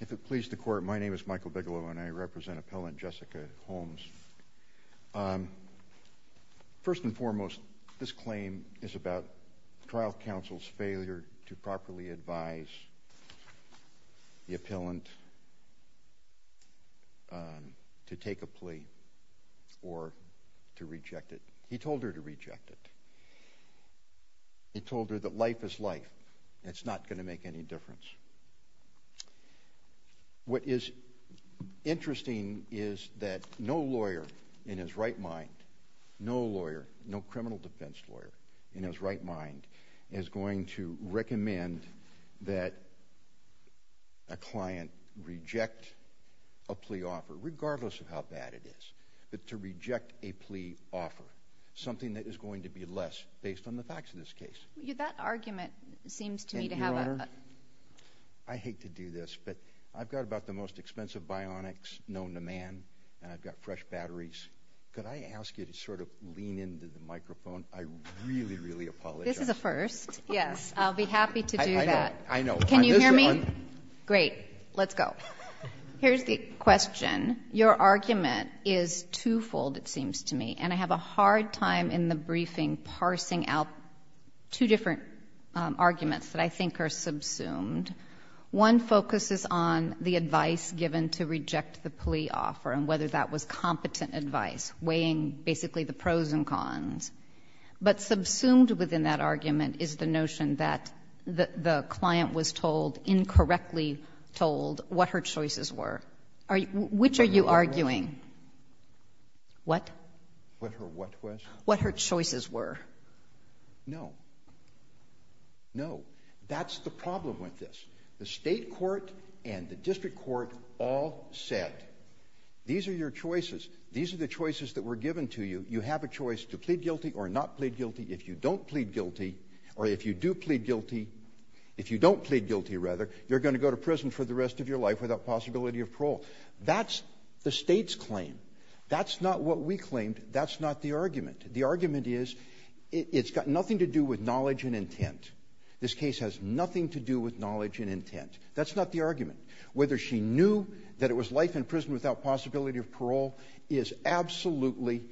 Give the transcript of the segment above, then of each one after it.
If it pleases the court, my name is Michael Bigelow and I represent appellant Jessica Holmes. First and foremost, this claim is about trial counsel's failure to properly advise the appellant to take a plea or to reject it. He told her to reject it. He told her that life is life. It's not going to make any difference. What is interesting is that no lawyer in his right mind, no lawyer, no criminal defense lawyer in his right mind is going to recommend that a client reject a plea offer, regardless of how bad it is, but to reject a plea offer, something that is going to be less based on the facts of this I've got about the most expensive bionics known to man and I've got fresh batteries. Could I ask you to sort of lean into the microphone? I really, really apologize. This is a first. Yes, I'll be happy to do that. Can you hear me? Great. Let's go. Here's the question. Your argument is twofold, it seems to me, and I have a hard time in the briefing parsing out two different arguments that I think are subsumed. One focuses on the advice given to reject the plea offer and whether that was competent advice, weighing basically the pros and cons, but subsumed within that argument is the notion that the client was told, incorrectly told, what her choices were. Which are you arguing? What? What her what was? What her choices were. No. No. That's the problem with this. The state court and the district court all said, these are your choices. These are the choices that were given to you. You have a choice to plead guilty or not plead guilty. If you don't plead guilty, or if you do plead guilty, if you don't plead guilty, rather, you're going to go to prison for the rest of your life without possibility of parole. That's the state's claim. That's not what we claimed. That's not the argument. The argument is it's got nothing to do with knowledge and intent. This case has nothing to do with knowledge and intent. That's not the argument. Whether she knew that it was life in prison without possibility of parole is absolutely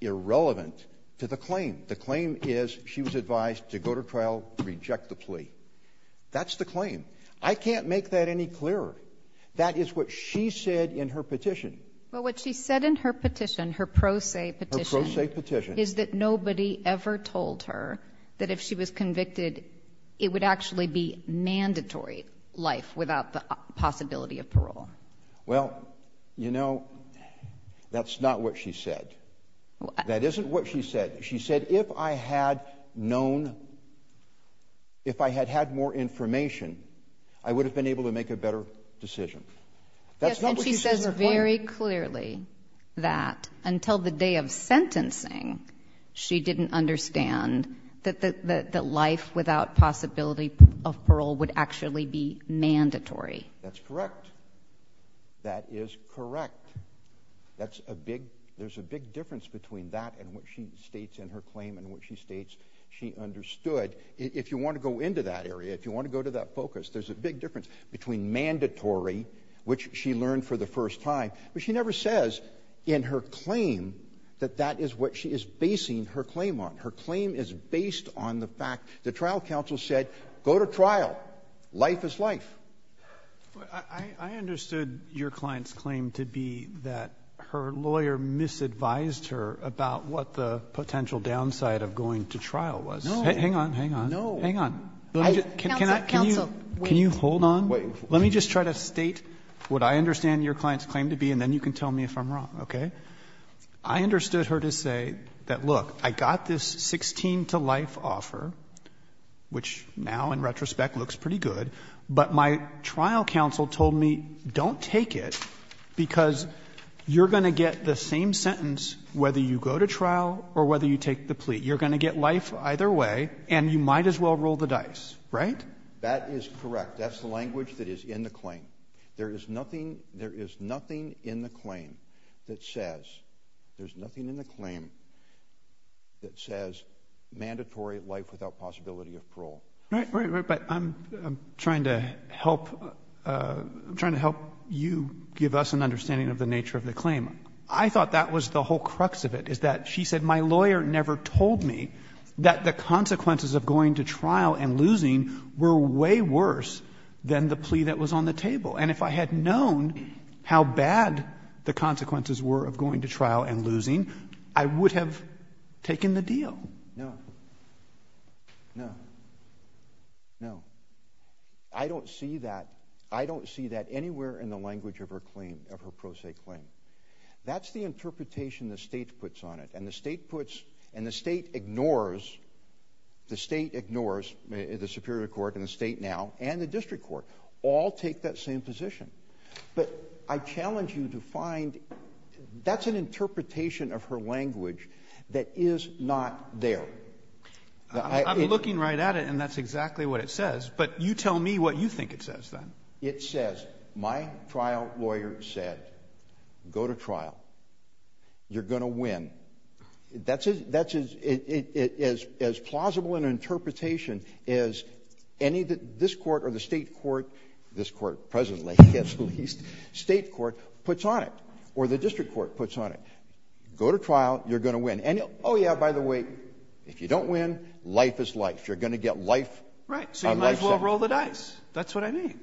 irrelevant to the claim. The claim is she was I can't make that any clearer. That is what she said in her petition. But what she said in her petition, her pro se petition, is that nobody ever told her that if she was convicted, it would actually be mandatory life without the possibility of parole. Well, you know, that's not what she said. That isn't what she said. She said, if I had known, if I had had more information, I would have been able to make a better decision. That's not what she said. She says very clearly that until the day of sentencing, she didn't understand that the life without possibility of parole would actually be mandatory. That's correct. That is correct. That's a big, there's a big difference between that and what she states she understood. If you want to go into that area, if you want to go to that focus, there's a big difference between mandatory, which she learned for the first time, but she never says in her claim that that is what she is basing her claim on. Her claim is based on the fact the trial counsel said, go to trial. Life is life. I understood your client's claim to be that her lawyer misadvised her about what the trial was. Hang on, hang on, hang on. Can you hold on? Let me just try to state what I understand your client's claim to be, and then you can tell me if I'm wrong. Okay. I understood her to say that, look, I got this 16 to life offer, which now in retrospect looks pretty good, but my trial counsel told me, don't take it because you're going to get the same sentence whether you go to trial or whether you take the plea. You're going to get life either way, and you might as well roll the dice, right? That is correct. That's the language that is in the claim. There is nothing, there is nothing in the claim that says, there's nothing in the claim that says mandatory life without possibility of parole. Right, right, right, but I'm trying to help, I'm trying to help you give us an understanding of the nature of the claim. I thought that was the whole crux of it, is that she said, my lawyer never told me that the consequences of going to trial and losing were way worse than the plea that was on the table, and if I had known how bad the consequences were of going to trial and losing, I would have taken the deal. No, no, no. I don't see that, I don't see that anywhere in the language of her pro se claim. That's the interpretation the state puts on it, and the state puts, and the state ignores, the state ignores, the superior court and the state now, and the district court, all take that same position, but I challenge you to find, that's an interpretation of her language that is not there. I'm looking right at it and that's exactly what it says, but you tell me what you think it says then. It says, my trial lawyer said, go to trial, you're going to win. That's as plausible an interpretation as any that this court or the state court, this court presently, at least, state court puts on it, or the district court puts on it. Go to trial, you're going to win, and oh yeah, by the way, if you don't win, life is life. You're going to get life. Right, so you might as well roll the dice. That's what I mean.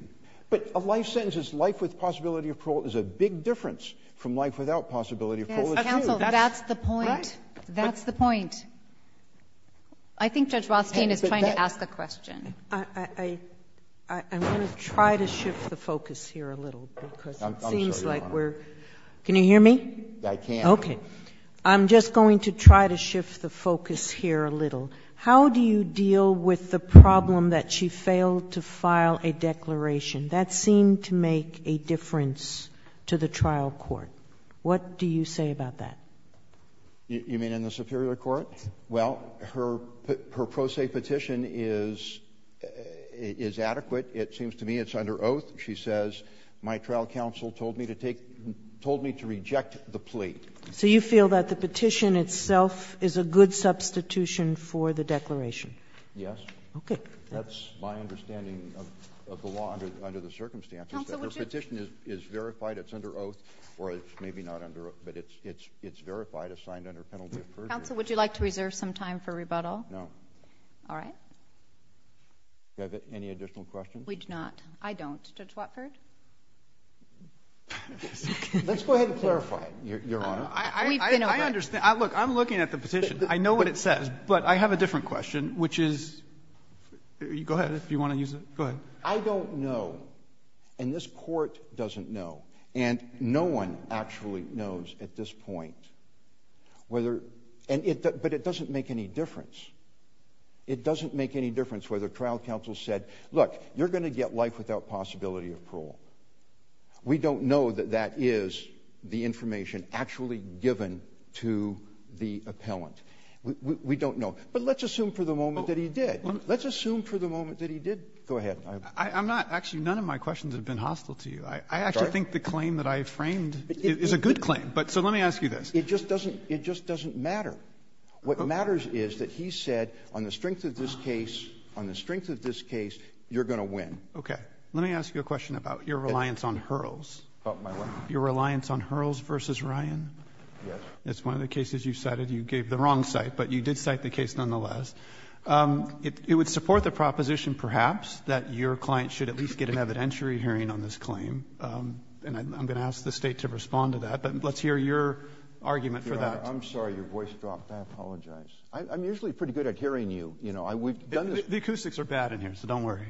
But a life sentence is life with possibility of parole is a big difference from life without possibility of parole. Yes, counsel, that's the point. That's the point. I think Judge Rothstein is trying to ask a question. I'm going to try to shift the focus here a little, because it seems like we're, can you hear me? I can. Okay. I'm just going to try to shift the focus here a little. How do you deal with the problem that she failed to file a declaration? That seemed to make a difference to the trial court. What do you say about that? You mean in the superior court? Well, her pro se petition is adequate. It seems to me it's under oath. She says, my trial counsel told me to reject the plea. So you feel that the petition itself is a good substitution for the declaration? Yes. Okay. That's my understanding of the law under the circumstances. That her petition is verified, it's under oath, or it's maybe not under oath, but it's verified, assigned under penalty of perjury. Counsel, would you like to reserve some time for rebuttal? No. All right. Do you have any additional questions? We do not. I don't. Let's go ahead and clarify it, Your Honor. I understand. Look, I'm looking at the petition. I know what it says, but I have a different question, which is... Go ahead if you want to use it. Go ahead. I don't know, and this court doesn't know, and no one actually knows at this point whether... But it doesn't make any difference. It doesn't make any difference whether trial counsel said, look, you're going to get life without possibility of parole. We don't know that is the information actually given to the appellant. We don't know. But let's assume for the moment that he did. Let's assume for the moment that he did. Go ahead. I'm not... Actually, none of my questions have been hostile to you. I actually think the claim that I framed is a good claim, but... So let me ask you this. It just doesn't matter. What matters is that he said on the strength of this case, you're going to win. Okay. Let me ask you a question about your reliance on Hurls versus Ryan. Yes. It's one of the cases you cited. You gave the wrong cite, but you did cite the case nonetheless. It would support the proposition perhaps that your client should at least get an evidentiary hearing on this claim, and I'm going to ask the state to respond to that. But let's hear your argument for that. I'm sorry. Your voice dropped. I apologize. I'm usually pretty good at hearing you. We've done this... The acoustics are bad in here, so don't worry.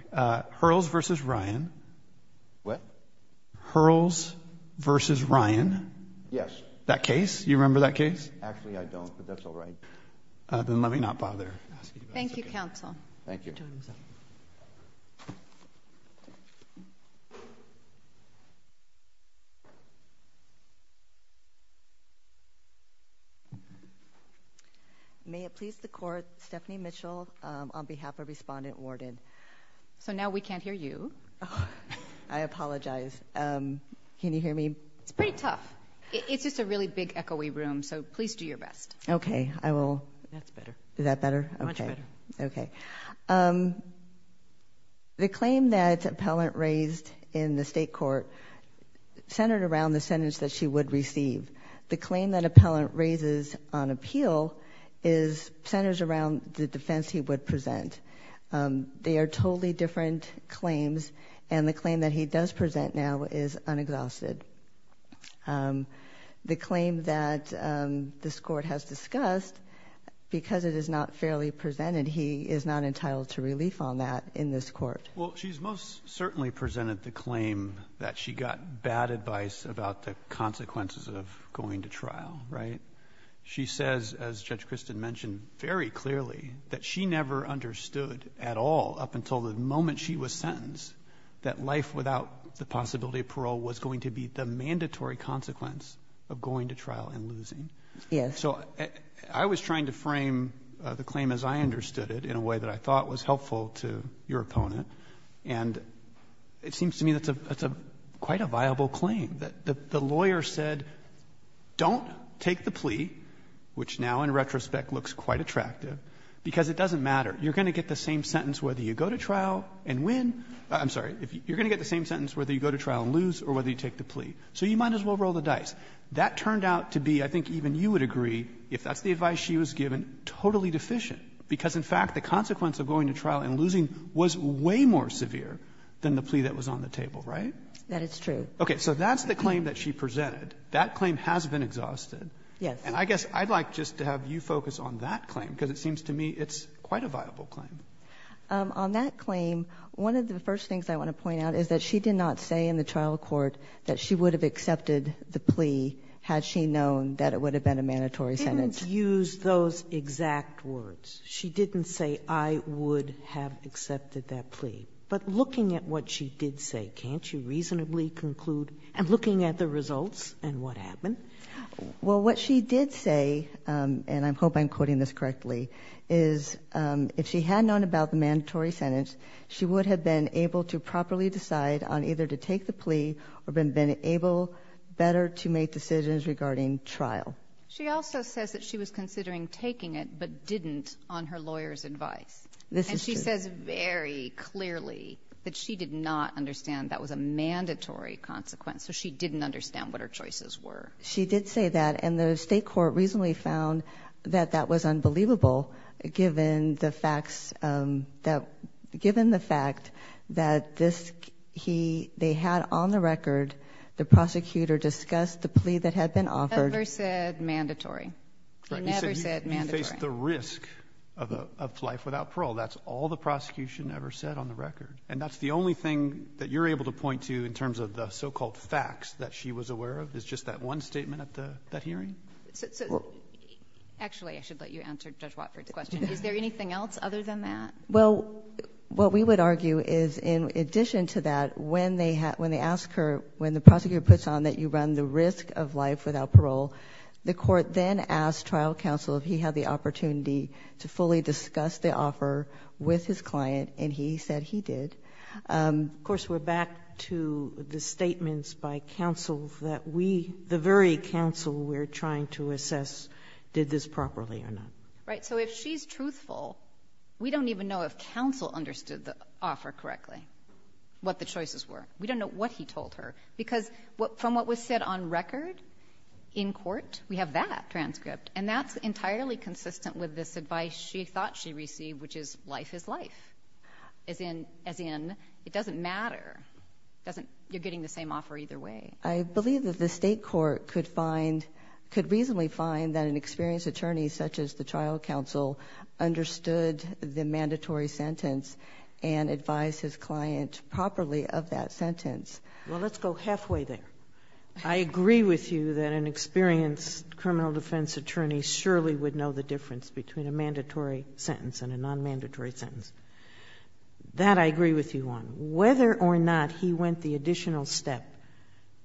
Hurls versus Ryan. What? Hurls versus Ryan. Yes. That case. You remember that case? Actually, I don't, but that's all right. Then let me not bother asking you. Thank you, counsel. Thank you. May it please the court, Stephanie Mitchell on behalf of Respondent Warden. So now we can't hear you. I apologize. Can you hear me? It's pretty tough. It's just a really big echoey room, so please do your best. Okay, I will. That's better. Is that better? Much better. Okay. The claim that appellant raised in the state court centered around the sentence that she would receive. The claim that appellant raises on appeal centers around the defense he would present. They are totally different claims, and the claim that he does present now is unexhausted. The claim that this court has discussed, because it is not fairly presented, he is not entitled to relief on that in this court. Well, she's most certainly presented the claim that she got bad advice about the consequences of going to trial, right? She says, as Judge Christin mentioned very clearly, that she never understood at all up until the moment she was sentenced that life without the possibility of parole was going to be the mandatory consequence of going to trial and losing. So I was trying to frame the claim as I understood it in a way that I thought was helpful to your opponent, and it seems to me that's quite a viable claim. The lawyer said, don't take the plea, which now in retrospect looks quite attractive, because it doesn't matter. You're going to get the same sentence whether you go to trial and lose or whether you take the plea, so you might as well roll the dice. That turned out to be, I think even you would agree, if that's the advice she was given, totally deficient, because in fact the consequence of going to trial and losing was way more severe than the plea that was on the table, right? That is true. Okay. So that's the claim that she presented. That claim has been exhausted. Yes. And I guess I'd like just to have you focus on that claim, because it seems to me it's quite a viable claim. On that claim, one of the first things I want to point out is that she did not say in the trial court that she would have accepted the plea had she known that it would have been a mandatory sentence. She didn't use those exact words. She didn't say, I would have accepted that plea. But looking at what she did say, can't you reasonably conclude, and looking at the results and what happened? Well, what she did say, and I hope I'm quoting this correctly, is if she had known about the mandatory sentence, she would have been able to properly decide on either to take the plea or been able better to make decisions regarding trial. She also says that she was considering taking it but didn't on her lawyer's advice. This is true. And she says very clearly that she did not understand that was a mandatory consequence, so she didn't understand what her choices were. She did say that, and the state court reasonably found that that was unbelievable, given the facts that, given the fact that this, he, they had on the record, the prosecutor discussed the plea that had been offered. Never said mandatory. Right, you said you faced the risk of life without parole. That's all the prosecution ever said on the record. And that's the only thing that you're able to point to in terms of the so-called facts that she was aware of, is just that one statement at that hearing? Actually, I should let you answer Judge Watford's question. Is there anything else other than that? Well, what we would argue is, in addition to that, when they ask her, when the prosecutor puts on that you run the risk of life without parole, the court then asked trial counsel if he had the opportunity to fully discuss the offer with his client, and he said he did. Of course, we're back to the statements by counsel that we, the very counsel we're trying to assess, did this properly or not. Right, so if she's truthful, we don't even know if counsel understood the offer correctly, what the choices were. We don't know what he told her, because from what was said on record, in court, we have that transcript. And that's entirely consistent with this advice she thought she received, which is, life is life, as in, it doesn't matter. You're getting the same offer either way. I believe that the state court could reasonably find that an experienced attorney, such as the trial counsel, understood the mandatory sentence and advised his client properly of that sentence. Well, let's go halfway there. I agree with you that an experienced criminal defense attorney surely would know the difference between a mandatory sentence and a non-mandatory sentence. That I agree with you on. Whether or not he went the additional step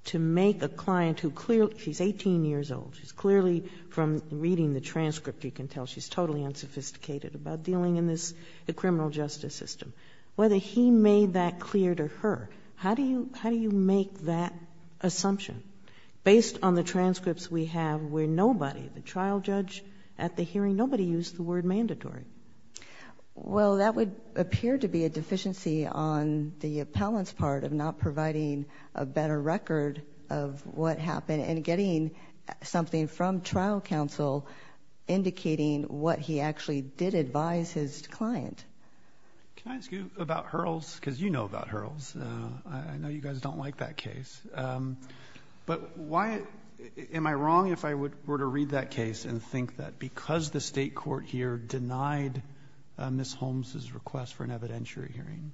to make a client who clearly... She's 18 years old. She's clearly, from reading the transcript, you can tell she's totally unsophisticated about dealing in this criminal justice system. Whether he made that clear to her, how do you make that assumption? Based on the transcripts we have, where nobody, the trial judge, at the hearing, nobody used the word mandatory. Well, that would appear to be a deficiency on the appellant's part of not providing a better record of what happened and getting something from trial counsel indicating what he actually did advise his client. Can I ask you about Hurls? Because you know about Hurls. I know you guys don't like that case. But why... Am I wrong if I were to read that case and think that because the state court here denied Ms. Holmes' request for an evidentiary hearing.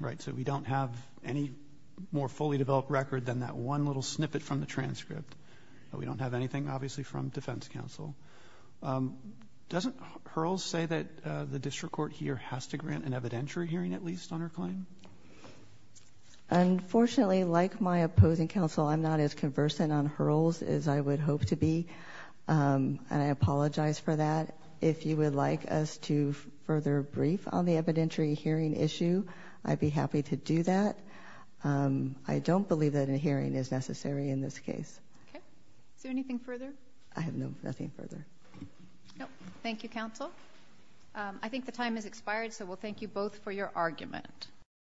Right? So we don't have any more fully developed record than that one little snippet from the transcript. We don't have anything, obviously, from defense counsel. Doesn't Hurls say that the district court here has to grant an evidentiary hearing at least on her claim? Unfortunately, like my opposing counsel, I'm not as conversant on Hurls as I would hope to be. And I apologize for that. If you would like us to further brief on the evidentiary hearing issue, I'd be happy to do that. I don't believe that a hearing is necessary in this case. Okay. Is there anything further? I have no, nothing further. No. Thank you, counsel. I think the time has expired. So we'll thank you both for your argument. Thank you.